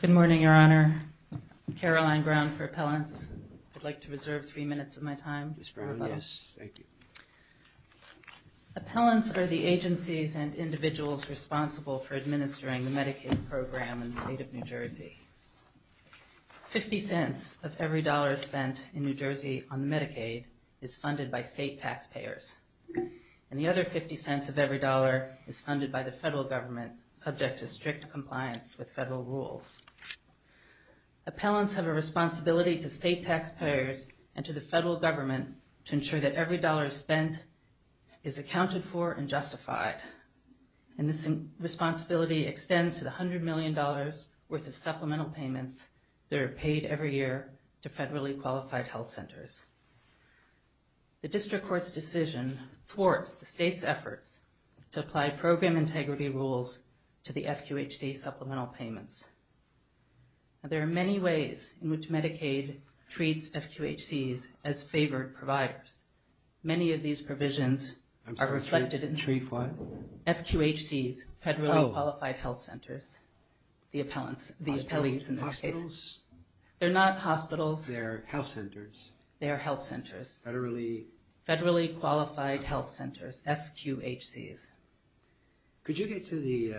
Good morning, Your Honor. I'm Caroline Brown for Appellants. I'd like to reserve three minutes of my time. Ms. Brown, yes, thank you. Appellants are the agencies and individuals responsible for administering the Medicaid program in the State of New Jersey. Fifty cents of every dollar spent in New Jersey on Medicaid is funded by state taxpayers, and the other fifty cents of every dollar is funded by the federal government, subject to strict compliance with federal rules. Appellants have a responsibility to state taxpayers and to the federal government to ensure that every dollar spent is accounted for and justified. And this responsibility extends to the $100 million worth of supplemental payments that are paid every year to federally qualified health centers. The district court's decision thwarts the state's efforts to apply program integrity rules to the FQHC supplemental payments. There are many ways in which Medicaid treats FQHCs as favored providers. Many of these provisions are reflected in FQHCs, federally qualified health centers, the appellants, the appellees in this case. Hospitals? They're not hospitals. They're health centers. They're health centers. Federally? Federally qualified health centers, FQHCs. Could you get to the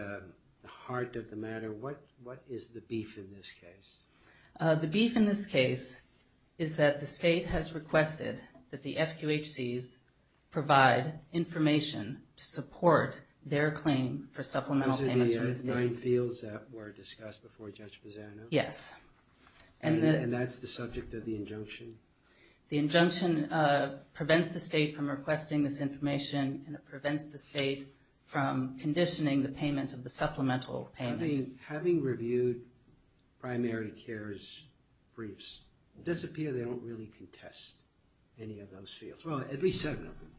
heart of the matter? What is the beef in this case? The beef in this case is that the state has requested that the FQHCs provide information to support their claim for supplemental payments from the state. The nine fields that were discussed before Judge Pisano? Yes. And that's the subject of the injunction? The injunction prevents the state from requesting this information, and it prevents the state from conditioning the payment of the supplemental payment. Having reviewed primary cares briefs, does it appear they don't really contest any of those fields? Well, at least seven of them.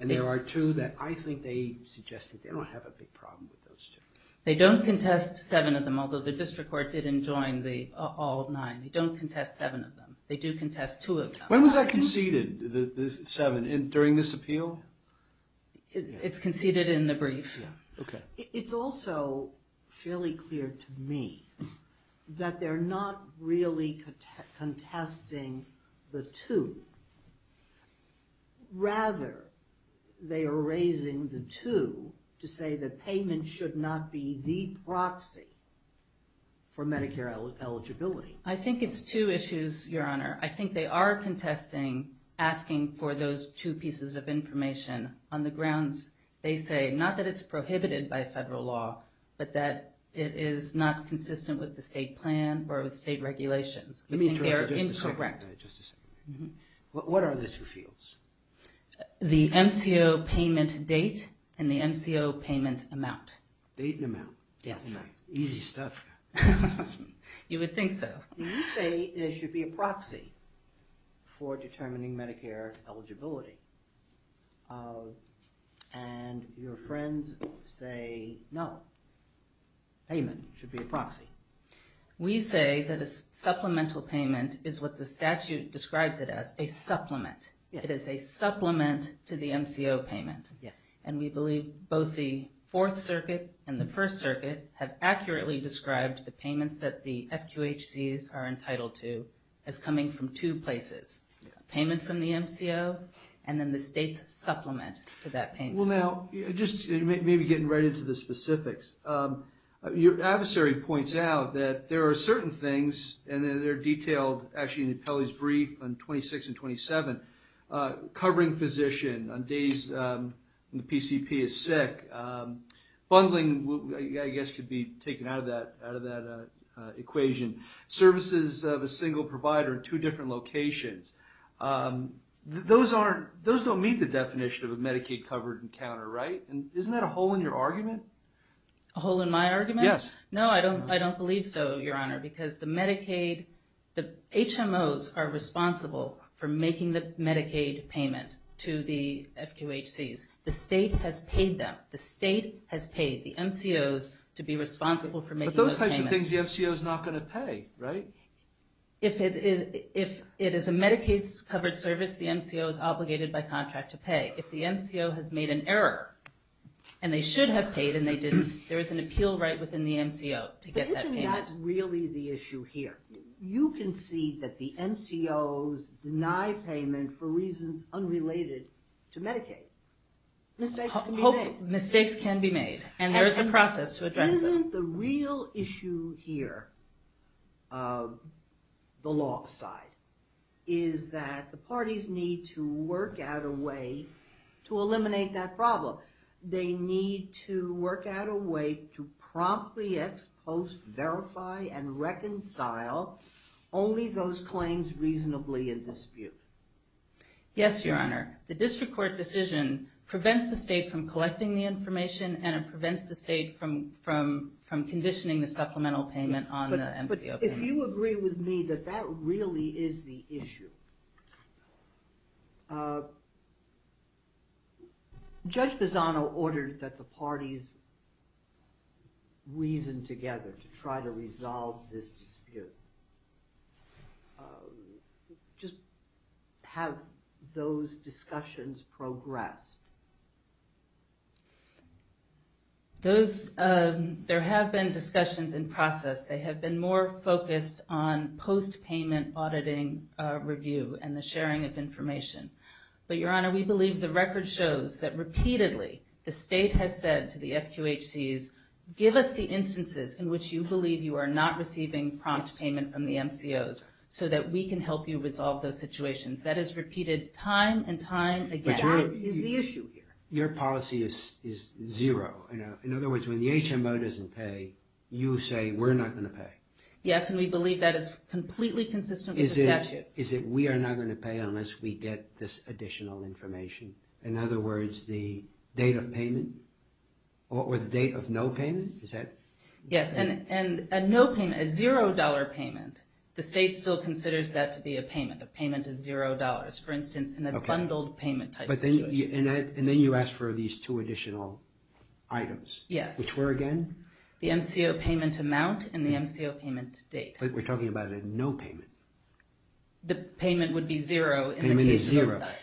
And there are two that I think they suggest that they don't have a big problem with those two. They don't contest seven of them, although the district court did enjoin all nine. They don't contest seven of them. They do contest two of them. When was that conceded, the seven? During this appeal? It's conceded in the brief. Okay. It's also fairly clear to me that they're not really contesting the two. Rather, they are raising the two to say that payment should not be the proxy for Medicare eligibility. I think it's two issues, Your Honor. I think they are contesting asking for those two pieces of information on the grounds, they say, not that it's prohibited by federal law, but that it is not consistent with the state plan or with state regulations. Let me interrupt you just a second. Correct. Just a second. What are the two fields? The MCO payment date and the MCO payment amount. Date and amount. Yes. Easy stuff. You would think so. You say it should be a proxy for determining Medicare eligibility. And your friends say, no, payment should be a proxy. We say that a supplemental payment is what the statute describes it as, a supplement. It is a supplement to the MCO payment. Yes. And we believe both the Fourth Circuit and the First Circuit have accurately described the payments that the FQHCs are entitled to as coming from two places, payment from the MCO and then the state's supplement to that payment. Well, now, just maybe getting right into the specifics. Your adversary points out that there are certain things, and they're detailed actually in the appellee's brief on 26 and 27, covering physician on days when the PCP is sick, bungling, I guess, could be taken out of that equation, services of a single provider in two different locations. Those don't meet the definition of a Medicaid covered encounter, right? Isn't that a hole in your argument? A hole in my argument? Yes. No, I don't believe so, Your Honor, because the Medicaid, the HMOs are responsible for making the Medicaid payment to the FQHCs. The state has paid them. The state has paid the MCOs to be responsible for making those payments. But those types of things the MCO is not going to pay, right? If it is a Medicaid-covered service, the MCO is obligated by contract to pay. If the MCO has made an error, and they should have paid and they didn't, there is an appeal right within the MCO to get that payment. But isn't that really the issue here? You can see that the MCOs deny payment for reasons unrelated to Medicaid. Mistakes can be made. Mistakes can be made, and there is a process to address them. Isn't the real issue here, the law side, is that the parties need to work out a way to eliminate that problem. They need to work out a way to promptly ex post, verify, and reconcile only those claims reasonably in dispute. Yes, Your Honor. The district court decision prevents the state from collecting the information, and it prevents the state from conditioning the supplemental payment on the MCO payment. But if you agree with me that that really is the issue, Judge Bozzano ordered that the parties reason together to try to resolve this dispute. Just have those discussions progress. There have been discussions in process. They have been more focused on post-payment auditing review and the sharing of information. But, Your Honor, we believe the record shows that repeatedly the state has said to the FQHCs, give us the instances in which you believe you are not receiving prompt payment from the MCOs so that we can help you resolve those situations. That is repeated time and time again. Time is the issue here. Your policy is zero. In other words, when the HMO doesn't pay, you say we're not going to pay. Yes, and we believe that is completely consistent with the statute. Is it we are not going to pay unless we get this additional information? In other words, the date of payment or the date of no payment? Yes, and a no payment, a $0 payment, the state still considers that to be a payment, a payment of $0, for instance, in a bundled payment type situation. And then you ask for these two additional items. Yes. Which were again? The MCO payment amount and the MCO payment date. But we're talking about a no payment. The payment would be zero.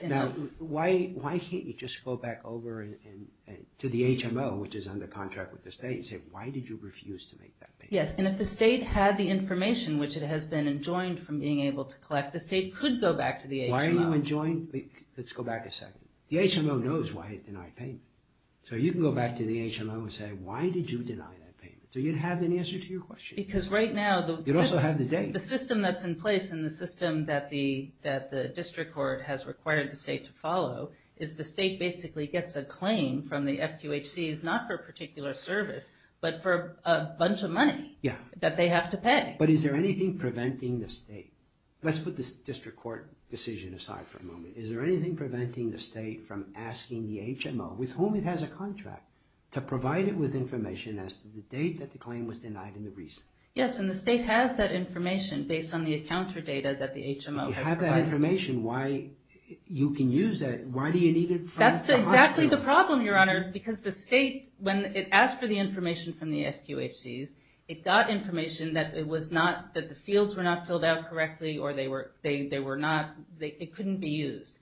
Now, why can't you just go back over to the HMO, which is under contract with the state, and say, why did you refuse to make that payment? Yes, and if the state had the information, which it has been enjoined from being able to collect, the state could go back to the HMO. Why are you enjoined? Let's go back a second. The HMO knows why it denied payment. So you can go back to the HMO and say, why did you deny that payment? So you'd have an answer to your question. Because right now the system that's in place and the system that the district court has required the state to follow is the state basically gets a claim from the FQHC, not for a particular service, but for a bunch of money that they have to pay. But is there anything preventing the state? Let's put the district court decision aside for a moment. Is there anything preventing the state from asking the HMO, with whom it has a contract, to provide it with information as to the date that the claim was denied and the reason? Yes, and the state has that information based on the account for data that the HMO has provided. If you have that information, you can use that. Why do you need it from the hospital? That's exactly the problem, Your Honor, because the state, when it asked for the information from the FQHCs, it got information that the fields were not filled out correctly or they were not. It couldn't be used.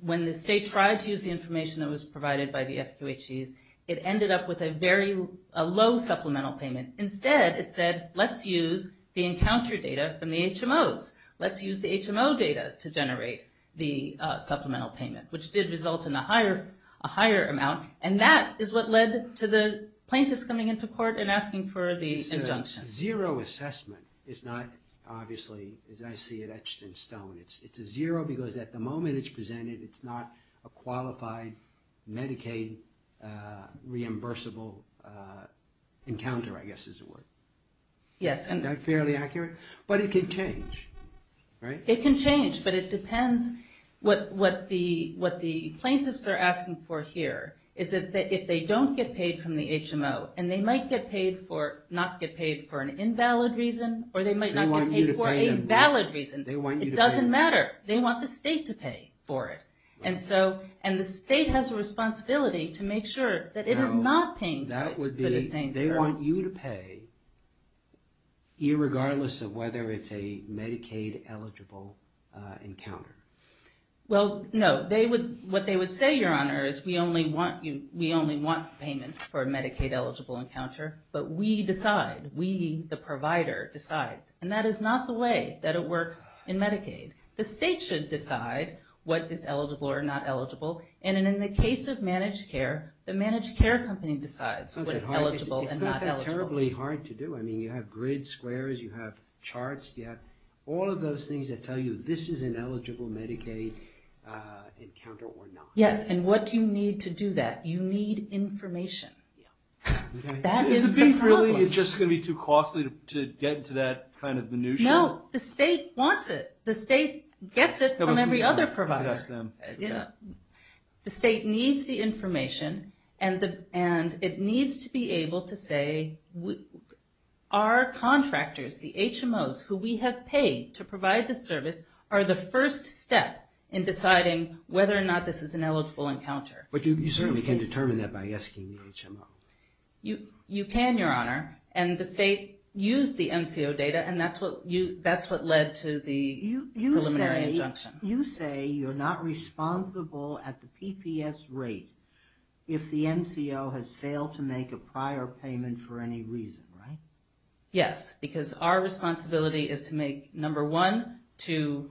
When the state tried to use the information that was provided by the FQHCs, it ended up with a low supplemental payment. Instead, it said, let's use the encounter data from the HMOs. Let's use the HMO data to generate the supplemental payment, which did result in a higher amount, and that is what led to the plaintiffs coming into court and asking for the injunction. It's a zero assessment. It's not, obviously, as I see it, etched in stone. It's a zero because at the moment it's presented, it's not a qualified Medicaid reimbursable encounter, I guess is the word. Yes. Is that fairly accurate? But it can change, right? It can change, but it depends. What the plaintiffs are asking for here is that if they don't get paid from the HMO, and they might not get paid for an invalid reason, or they might not get paid for a valid reason. It doesn't matter. They want the state to pay for it, and the state has a responsibility to make sure that it is not paying for the same service. They want you to pay, irregardless of whether it's a Medicaid-eligible encounter. Well, no. What they would say, Your Honor, is we only want payment for a Medicaid-eligible encounter, but we decide. We, the provider, decides, and that is not the way that it works in Medicaid. The state should decide what is eligible or not eligible, and in the case of managed care, the managed care company decides what is eligible and not eligible. It's not that terribly hard to do. I mean, you have grids, squares. You have charts. You have all of those things that tell you this is an eligible Medicaid encounter or not. Yes, and what do you need to do that? You need information. That is the problem. So is the beef really just going to be too costly to get to that kind of minutia? No. The state wants it. The state gets it from every other provider. The state needs the information, and it needs to be able to say our contractors, the HMOs, who we have paid to provide the service are the first step in deciding whether or not this is an eligible encounter. But you certainly can determine that by asking the HMO. You can, Your Honor, and the state used the MCO data, and that's what led to the preliminary injunction. You say you're not responsible at the PPS rate if the MCO has failed to make a prior payment for any reason, right? Yes, because our responsibility is to make, number one, to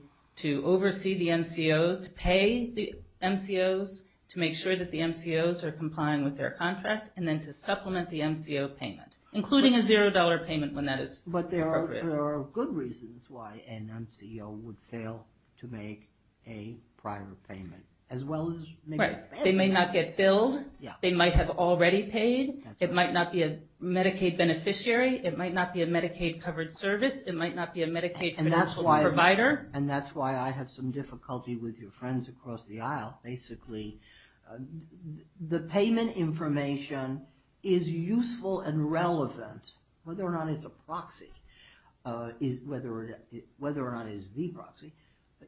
oversee the MCOs, to pay the MCOs, to make sure that the MCOs are complying with their contract, and then to supplement the MCO payment, including a $0 payment when that is appropriate. But there are good reasons why an MCO would fail to make a prior payment, as well as make a payment. Right. They may not get billed. They might have already paid. It might not be a Medicaid beneficiary. It might not be a Medicaid-covered service. It might not be a Medicaid financial provider. And that's why I have some difficulty with your friends across the aisle, basically. The payment information is useful and relevant, whether or not it's a proxy, whether or not it is the proxy.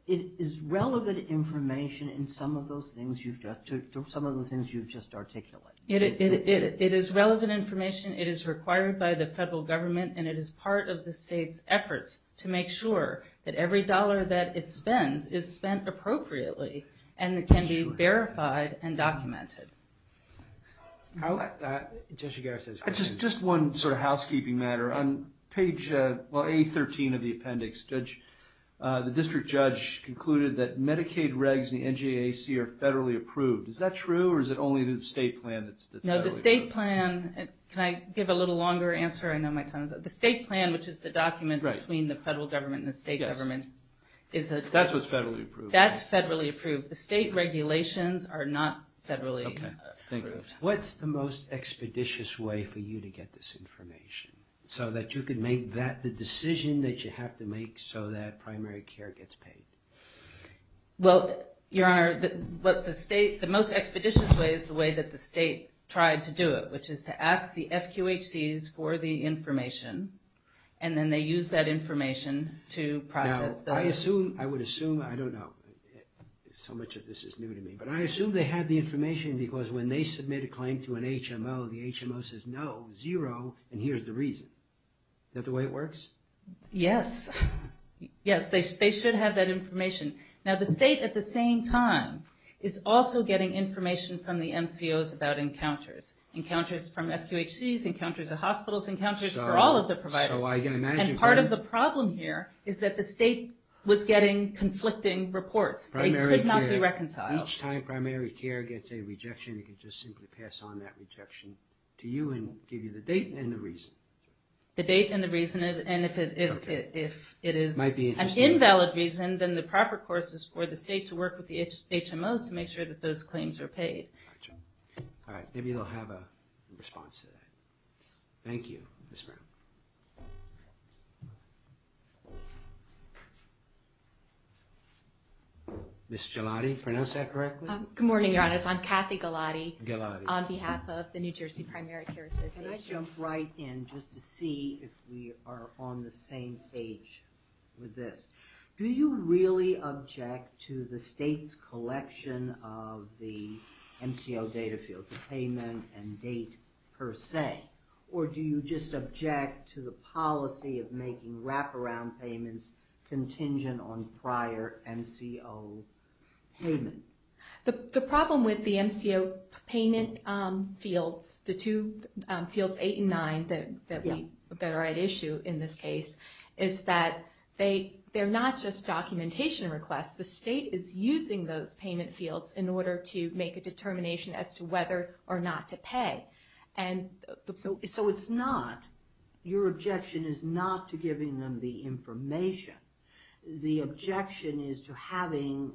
It is relevant information in some of those things you've just articulated. It is relevant information. It is required by the federal government, and it is part of the state's efforts to make sure that every dollar that it receives is verified and documented. Just one sort of housekeeping matter. On page, well, A13 of the appendix, the district judge concluded that Medicaid regs in the NJAC are federally approved. Is that true, or is it only the state plan that's federally approved? No, the state plan, can I give a little longer answer? I know my time is up. The state plan, which is the document between the federal government and the state government. Yes. That's what's federally approved. That's federally approved. The state regulations are not federally approved. Okay. Thank you. What's the most expeditious way for you to get this information, so that you can make the decision that you have to make so that primary care gets paid? Well, Your Honor, what the state, the most expeditious way is the way that the state tried to do it, which is to ask the FQHCs for the information, and then they use that information to process the. Now, I would assume, I don't know. So much of this is new to me. But I assume they had the information because when they submit a claim to an HMO, the HMO says, no, zero, and here's the reason. Is that the way it works? Yes. Yes, they should have that information. Now, the state, at the same time, is also getting information from the MCOs about encounters, encounters from FQHCs, encounters at hospitals, encounters for all of their providers. And part of the problem here is that the state was getting conflicting reports. They could not be reconciled. Each time primary care gets a rejection, it can just simply pass on that rejection to you and give you the date and the reason. The date and the reason. And if it is an invalid reason, then the proper course is for the state to work with the HMOs to make sure that those claims are paid. All right. Maybe they'll have a response to that. Thank you, Ms. Brown. Ms. Gelati, pronounce that correctly? Good morning, Your Honor. I'm Kathy Gelati. Gelati. On behalf of the New Jersey Primary Care Association. Can I jump right in just to see if we are on the same page with this? Do you really object to the state's collection of the MCO data field, the payment and date per se, or do you just object to the policy of making wraparound payments contingent on prior MCO payment? The problem with the MCO payment fields, the two fields, eight and nine, that are at issue in this case, is that they're not just documentation requests. The state is using those payment fields in order to make a determination as to whether or not to pay. So it's not, your objection is not to giving them the information. The objection is to having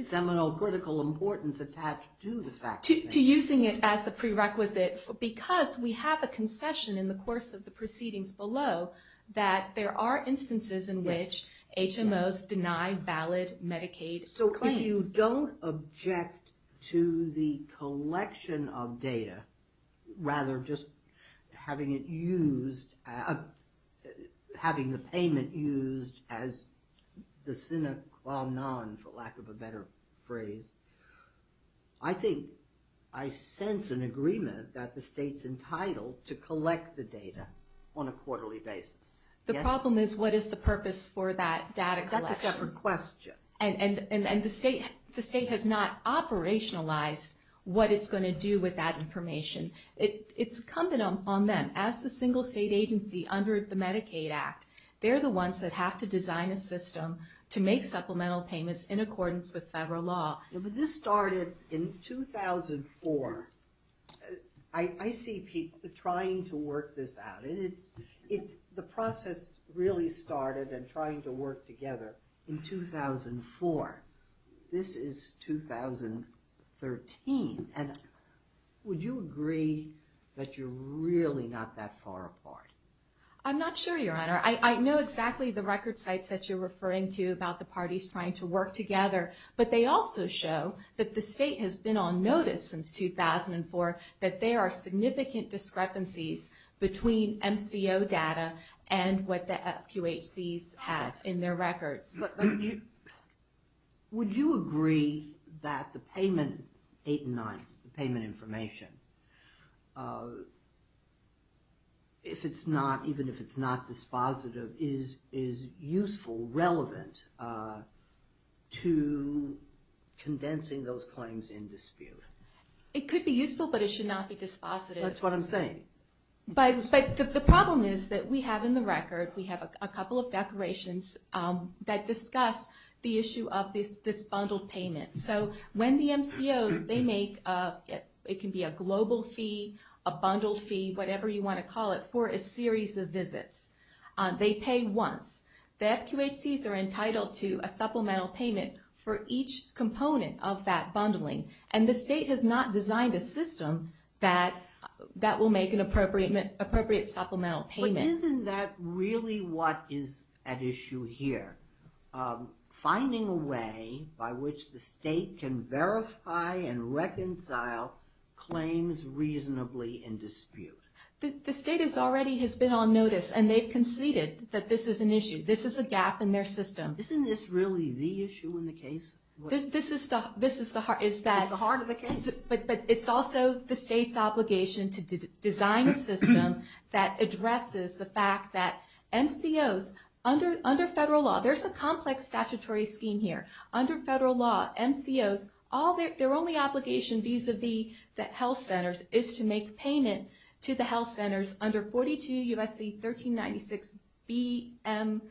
seminal critical importance attached to the fact. To using it as a prerequisite, because we have a concession in the course of the proceedings below, that there are instances in which HMOs deny valid Medicaid claims. So if you don't object to the collection of data, rather just having it used, having the payment used as the sine qua non, for lack of a better phrase, I think I sense an agreement that the state's entitled to collect the data on a quarterly basis. The problem is what is the purpose for that data collection? That's a separate question. And the state has not operationalized what it's going to do with that information. It's incumbent on them. As the single state agency under the Medicaid Act, they're the ones that have to design a system to make supplemental payments in accordance with federal law. But this started in 2004. I see people trying to work this out. The process really started in trying to work together in 2004. This is 2013. Would you agree that you're really not that far apart? I'm not sure, Your Honor. I know exactly the record sites that you're referring to about the parties trying to work together, but they also show that the state has been on notice since 2004 that there are significant discrepancies between MCO data and what the FQHCs have in their records. Would you agree that the payment, 8 and 9, the payment information, even if it's not dispositive, is useful, relevant, to condensing those claims in dispute? It could be useful, but it should not be dispositive. That's what I'm saying. But the problem is that we have in the record, we have a couple of declarations that discuss the issue of this bundled payment. So when the MCOs, they make, it can be a global fee, a bundled fee, whatever you want to call it, for a series of visits. They pay once. The FQHCs are entitled to a supplemental payment for each component of that bundling. And the state has not designed a system that will make an appropriate supplemental payment. But isn't that really what is at issue here, finding a way by which the state can verify and reconcile claims reasonably in dispute? The state already has been on notice, and they've conceded that this is an issue. This is a gap in their system. Isn't this really the issue in the case? This is the heart of the case. But it's also the state's obligation to design a system that addresses the fact that MCOs, under federal law, there's a complex statutory scheme here. Under federal law, MCOs, their only obligation vis-a-vis the health centers is to make payment to the health centers under 42 U.S.C. 1396 B.M.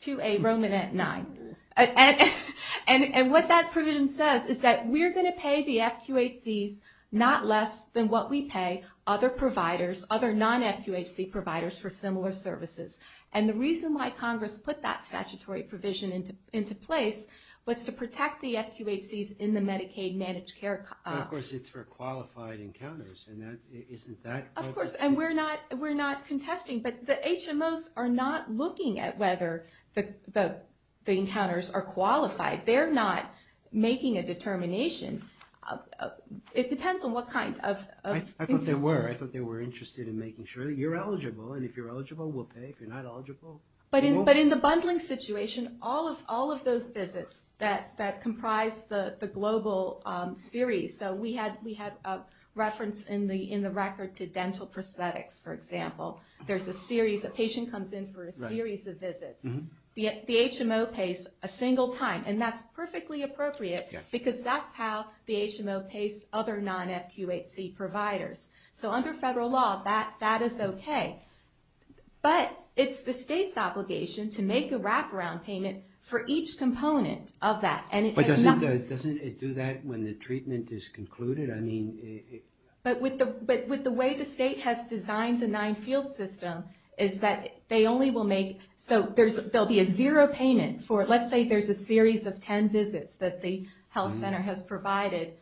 2A, Romanette 9. And what that provision says is that we're going to pay the FQHCs not less than what we pay other providers, other non-FQHC providers for similar services. And the reason why Congress put that statutory provision into place was to protect the FQHCs in the Medicaid managed care... Of course, it's for qualified encounters, and isn't that... Of course, and we're not contesting, but the HMOs are not looking at whether the encounters are qualified. They're not making a determination. It depends on what kind of... I thought they were. I thought they were interested in making sure that you're eligible, and if you're eligible, we'll pay. If you're not eligible... But in the bundling situation, all of those visits that comprise the global series... So we had a reference in the record to dental prosthetics, for example. There's a series... A patient comes in for a series of visits. The HMO pays a single time, and that's perfectly appropriate, because that's how the HMO pays other non-FQHC providers. So under federal law, that is okay. But it's the state's obligation to make a wraparound payment for each component of that, and it has nothing... But doesn't it do that when the treatment is concluded? But with the way the state has designed the nine-field system, is that they only will make... So there'll be a zero payment for... Let's say there's a series of 10 visits that the health center has provided.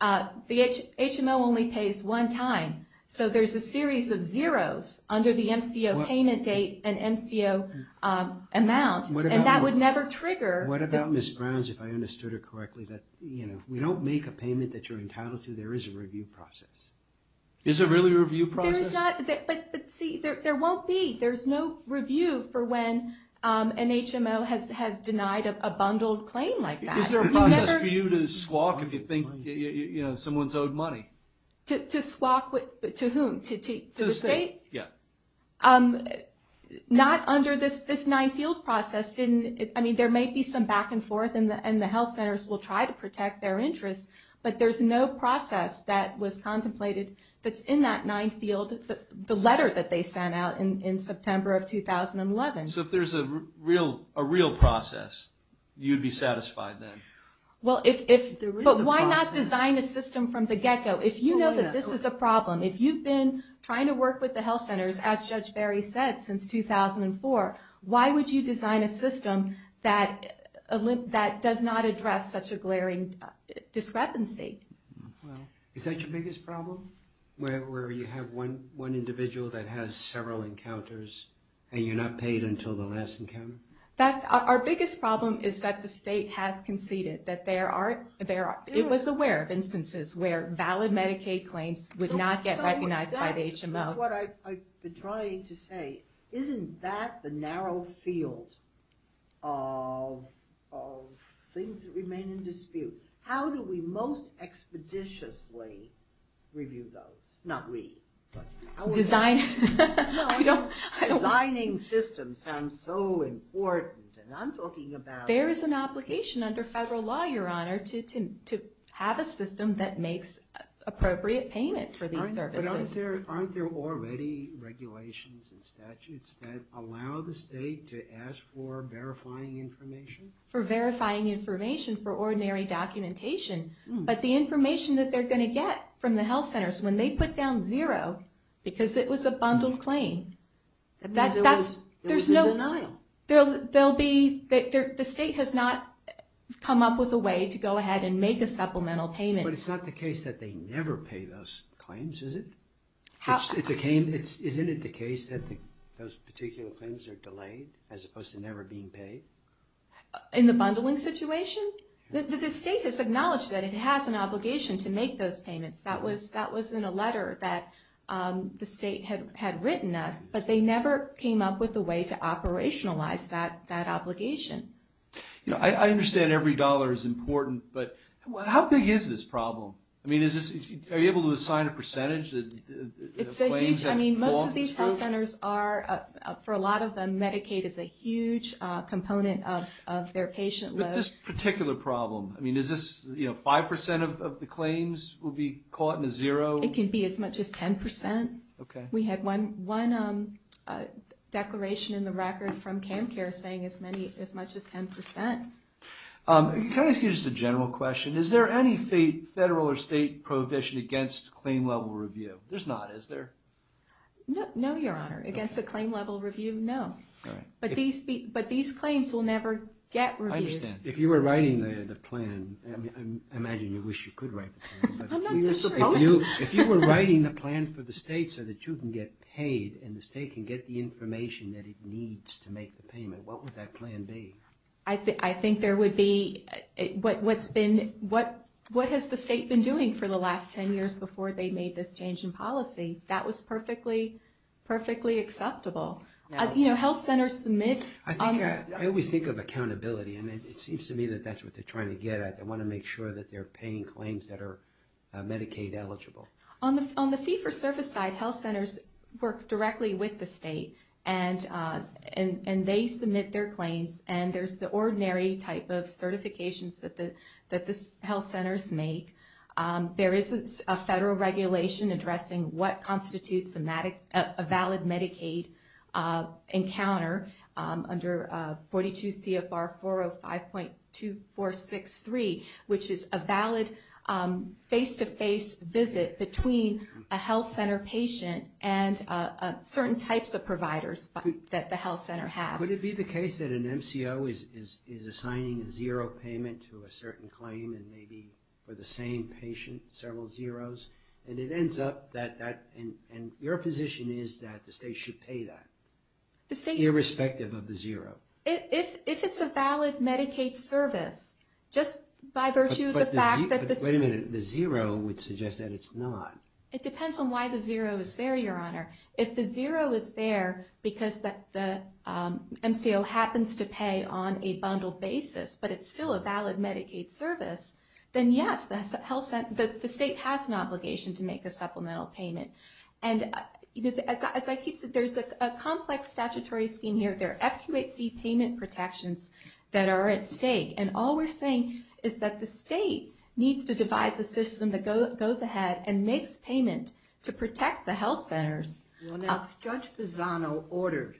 The HMO only pays one time, so there's a series of zeros under the MCO payment date and MCO amount, and that would never trigger... What about Ms. Browns, if I understood her correctly? If we don't make a payment that you're entitled to, there is a review process. Is there really a review process? But see, there won't be. There's no review for when an HMO has denied a bundled claim like that. Is there a process for you to swap if you think someone's owed money? To swap to whom? To the state? Yeah. Not under this nine-field process. I mean, there might be some back and forth, and the health centers will try to protect their interests, but there's no process that was contemplated that's in that nine-field, the letter that they sent out in September of 2011. So if there's a real process, you'd be satisfied then? Well, if... But why not design a system from the get-go? If you know that this is a problem, if you've been trying to work with the health centers, as Judge Barry said, since 2004, why would you design a system that does not address such a glaring discrepancy? Is that your biggest problem? Where you have one individual that has several encounters, and you're not paid until the last encounter? Our biggest problem is that the state has conceded that there are... It was aware of instances where valid Medicaid claims would not get recognized by the HMO. That's what I've been trying to say. Isn't that the narrow field of things that remain in dispute? How do we most expeditiously review those? Not we, but... Design... Designing systems sounds so important, and I'm talking about... There is an obligation under federal law, Your Honor, to have a system that makes appropriate payment for these services. But aren't there already regulations and statutes that allow the state to ask for verifying information? For verifying information, for ordinary documentation. But the information that they're going to get from the health centers, when they put down zero, because it was a bundled claim, that's... It was in denial. There'll be... The state has not come up with a way to go ahead and make a supplemental payment. But it's not the case that they never pay those claims, is it? It's a claim... Isn't it the case that those particular claims are delayed, as opposed to never being paid? In the bundling situation? The state has acknowledged that it has an obligation to make those payments. That was in a letter that the state had written us, but they never came up with a way to operationalize that obligation. I understand every dollar is important, but how big is this problem? I mean, is this... Are you able to assign a percentage? It's a huge... I mean, most of these health centers are... For a lot of them, Medicaid is a huge component of their patient load. But this particular problem, I mean, is this... You know, 5% of the claims will be caught in a zero? It can be as much as 10%. Okay. We had one declaration in the record from CAMCARE saying as many... As much as 10%. Can I ask you just a general question? Is there any federal or state prohibition against claim-level review? There's not, is there? No, Your Honor. Against the claim-level review, no. But these claims will never get reviewed. I understand. If you were writing the plan, I imagine you wish you could write the plan. I'm not so sure. If you were writing the plan for the state so that you can get paid and the state can get the information that it needs to make the payment, what would that plan be? I think there would be... What has the state been doing for the last 10 years before they made this change in policy? That was perfectly acceptable. You know, health centers submit... I always think of accountability and it seems to me that that's what they're trying to get at. They want to make sure that they're paying claims that are Medicaid eligible. On the fee-for-service side, health centers work directly with the state and they submit their claims and there's the ordinary type of certifications that the health centers make. There is a federal regulation addressing what constitutes a valid Medicaid encounter under 42 CFR 405.2463, which is a valid face-to-face visit between a health center patient and certain types of providers that the health center has. Would it be the case that an MCO is assigning a zero payment to a certain claim and maybe for the same patient several zeros, and it ends up that... And your position is that the state should pay that, irrespective of the zero. If it's a valid Medicaid service, just by virtue of the fact that... Wait a minute. The zero would suggest that it's not. It depends on why the zero is there, Your Honor. If the zero is there because the MCO happens to pay on a bundled basis, but it's still a valid Medicaid service, then yes, the state has an obligation to make a supplemental payment. And as I keep saying, there's a complex statutory scheme here. There are FQHC payment protections that are at stake and all we're saying is that the state needs to devise a system that goes ahead and makes payment to protect the health centers. Well now, Judge Bozzano ordered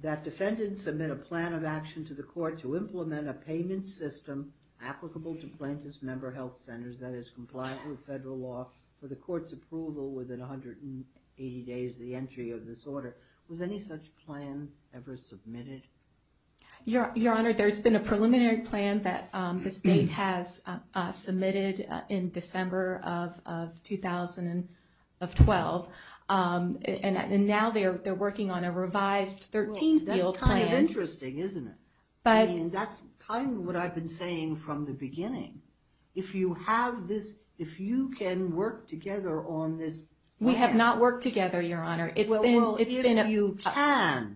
that defendants submit a plan of action to the court to implement a payment system applicable to plaintiff's member health centers that is compliant with federal law for the court's approval within 180 days of the entry of this order. Was any such plan ever submitted? Your Honor, there's been a preliminary plan that the state has submitted in December of 2012. And now they're working on a revised 13th field plan. Well, that's kind of interesting, isn't it? I mean, that's kind of what I've been saying from the beginning. If you have this, if you can work together on this plan... We have not worked together, Your Honor. Well, if you can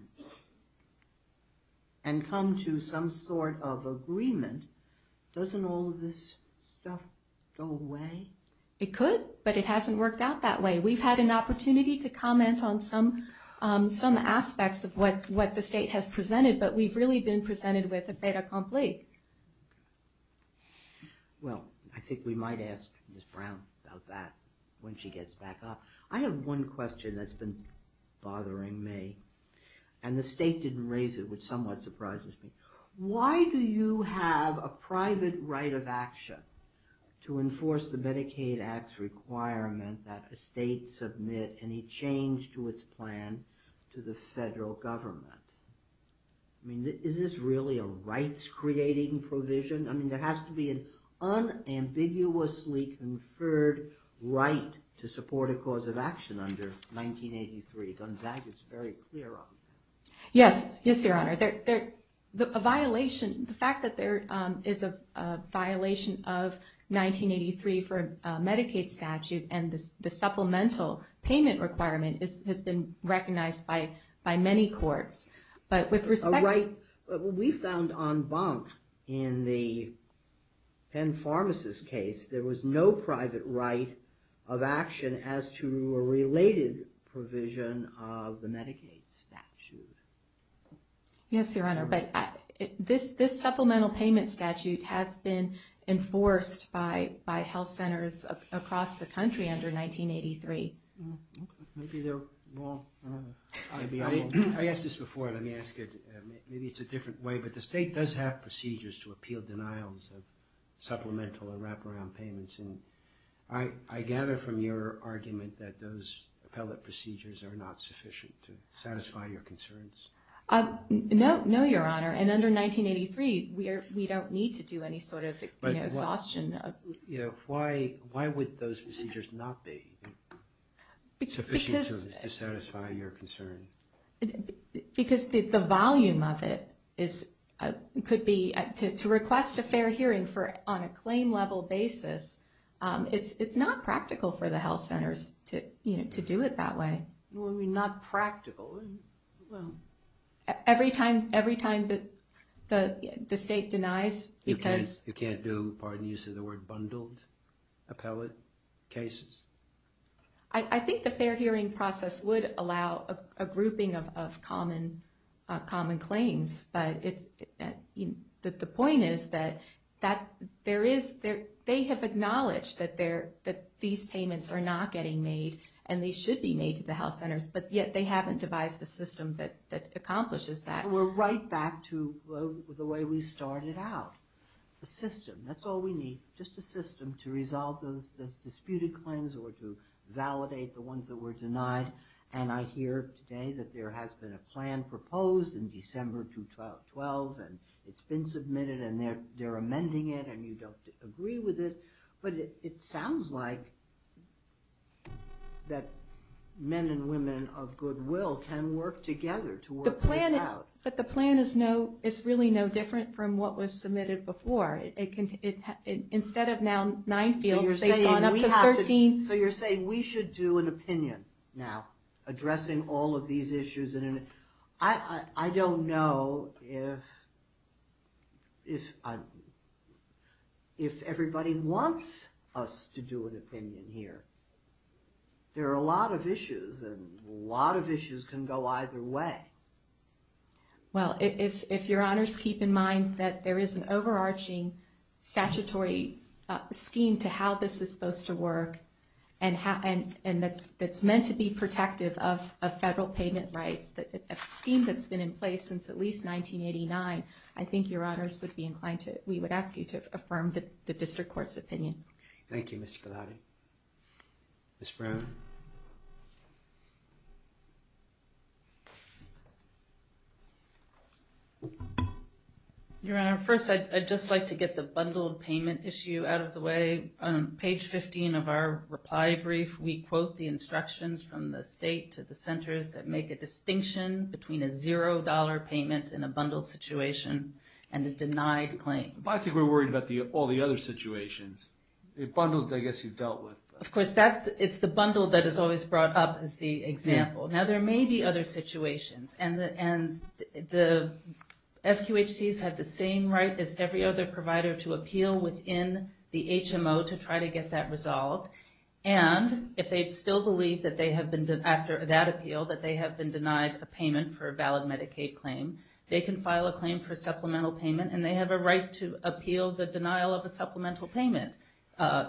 and come to some sort of agreement, doesn't all of this stuff go away? It could, but it hasn't worked out that way. We've had an opportunity to comment on some aspects of what the state has presented, but we've really been presented with a fait accompli. Well, I think we might ask Ms. Brown about that when she gets back up. I have one question that's been bothering me, and the state didn't raise it, which somewhat surprises me. Why do you have a private right of action to enforce the Medicaid Act's requirement that a state submit any change to its plan to the federal government? I mean, is this really a rights-creating provision? I mean, there has to be an unambiguously conferred right to support a cause of action under 1983. Gonzaga's very clear on that. Yes, yes, Your Honor. The fact that there is a violation of 1983 for a Medicaid statute, and the supplemental payment requirement has been recognized by many courts, but with respect to... A right we found en banc in the Penn Pharmacist case, there was no private right of action as to a related provision of the Medicaid statute. Yes, Your Honor, but this supplemental payment statute has been enforced by health centers across the country under 1983. Maybe they're wrong. I asked this before, and let me ask it. Maybe it's a different way, but the state does have procedures to appeal denials of supplemental and wraparound payments, and I gather from your argument that those appellate procedures are not sufficient to satisfy your concerns. No, Your Honor, and under 1983, we don't need to do any sort of exhaustion. Why would those procedures not be sufficient to satisfy your concern? Because the volume of it could be... To request a fair hearing on a claim-level basis, it's not practical for the health centers to do it that way. What do you mean, not practical? Well, every time the state denies... You can't do, pardon the use of the word, bundled appellate cases? I think the fair hearing process would allow a grouping of common claims, but the point is that they have acknowledged that these payments are not getting made and they should be made to the health centers, but yet they haven't devised a system that accomplishes that. We're right back to the way we started out. A system, that's all we need, just a system to resolve those disputed claims or to validate the ones that were denied, and I hear today that there has been a plan proposed in December 2012 and it's been submitted and they're amending it and you don't agree with it, but it sounds like that men and women of goodwill can work together to work this out. But the plan is really no different from what was submitted before. Instead of now nine fields, they've gone up to 13. So you're saying we should do an opinion now addressing all of these issues. I don't know if everybody wants us to do an opinion here. There are a lot of issues and a lot of issues can go either way. Well, if your honors keep in mind that there is an overarching statutory scheme to how this is supposed to work and that's meant to be protective of federal payment rights, a scheme that's been in place since at least 1989, I think your honors would be inclined to, we would ask you to affirm the district court's opinion. Thank you, Ms. Galati. Ms. Brown. Your honor, first I'd just like to get the bundled payment issue out of the way. On page 15 of our reply brief, we quote the instructions from the state to the centers that make a distinction between a $0 payment in a bundled situation and a denied claim. I think we're worried about all the other situations. The bundled, I guess you've dealt with. Of course, it's the bundled that is always brought up as the example. Now there may be other situations and the FQHCs have the same right as every other provider to appeal within the HMO to try to get that resolved and if they still believe after that appeal that they have been denied a payment for a valid Medicaid claim, they can file a claim for supplemental payment and they have a right to appeal the denial of a supplemental payment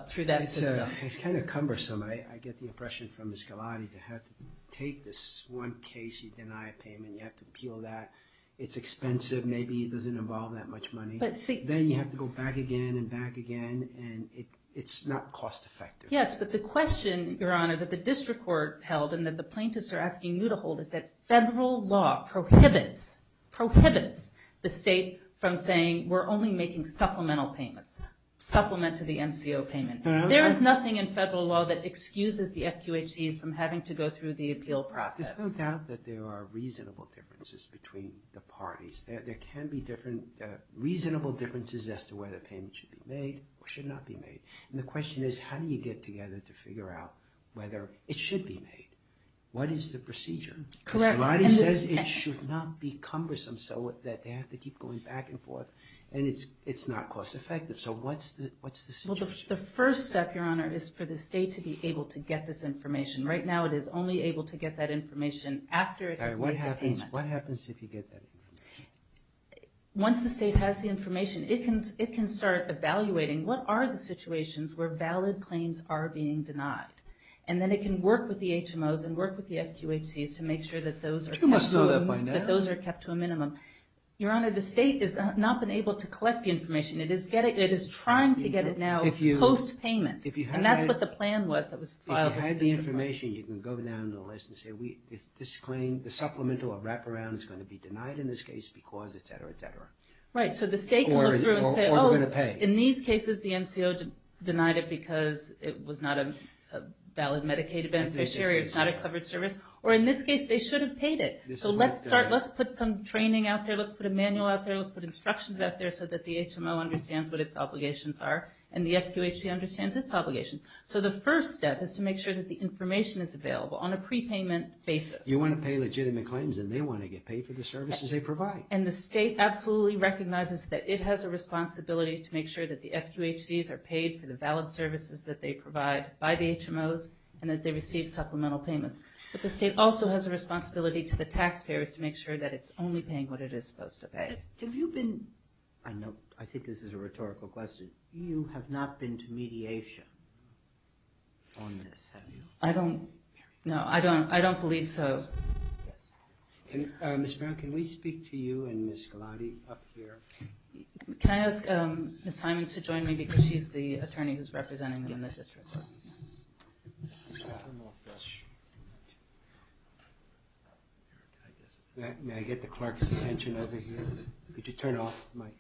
through that system. It's kind of cumbersome. I get the impression from Ms. Galati to have to take this one case, you deny a payment, you have to appeal that, it's expensive, maybe it doesn't involve that much money. Then you have to go back again and back again and it's not cost effective. Yes, but the question, Your Honor, that the district court held and that the plaintiffs are asking you to hold is that federal law prohibits the state from saying we're only making supplemental payments, supplement to the MCO payment. There is nothing in federal law that excuses the FQHCs from having to go through the appeal process. There's no doubt that there are reasonable differences between the parties. There can be different reasonable differences as to whether a payment should be made or should not be made. The question is how do you get together to figure out whether it should be made? What is the procedure? Ms. Galati says it should not be cumbersome so that they have to keep going back and forth and it's not cost effective. So what's the situation? The first step, Your Honor, is for the state to be able to get this information. Right now it is only able to get that information after it has made the payment. What happens if you get that information? Once the state has the information, it can start evaluating what are the situations where valid claims are being denied. And then it can work with the HMOs and work with the FQHCs to make sure that those are kept to a minimum. Your Honor, the state has not been able to collect the information. It is trying to get it now post-payment. And that's what the plan was that was filed. If you had the information, you can go down the list and say this claim, the supplemental or wraparound is going to be denied in this case because, etc., etc. Right, so the state can look through and say, oh, in these cases the MCO denied it because it was not a valid Medicaid beneficiary, it's not a covered service, or in this case they should have paid it. So let's put some training out there, let's put a manual out there, let's put instructions out there so that the HMO understands what its obligations are and the FQHC understands its obligations. So the first step is to make sure that the information is available on a prepayment basis. You want to pay legitimate claims and they want to get paid for the services they provide. And the state absolutely recognizes that it has a responsibility to make sure that the FQHCs are paid for the valid services that they provide by the HMOs and that they receive supplemental payments. But the state also has a responsibility to the taxpayers to make sure that it's only paying what it is supposed to pay. Have you been, I think this is a rhetorical question, but you have not been to mediation on this, have you? I don't, no, I don't believe so. Ms. Brown, can we speak to you and Ms. Galati up here? Can I ask Ms. Simons to join me because she's the attorney who's representing them in the district. May I get the clerk's attention over here? Could you turn off the mic?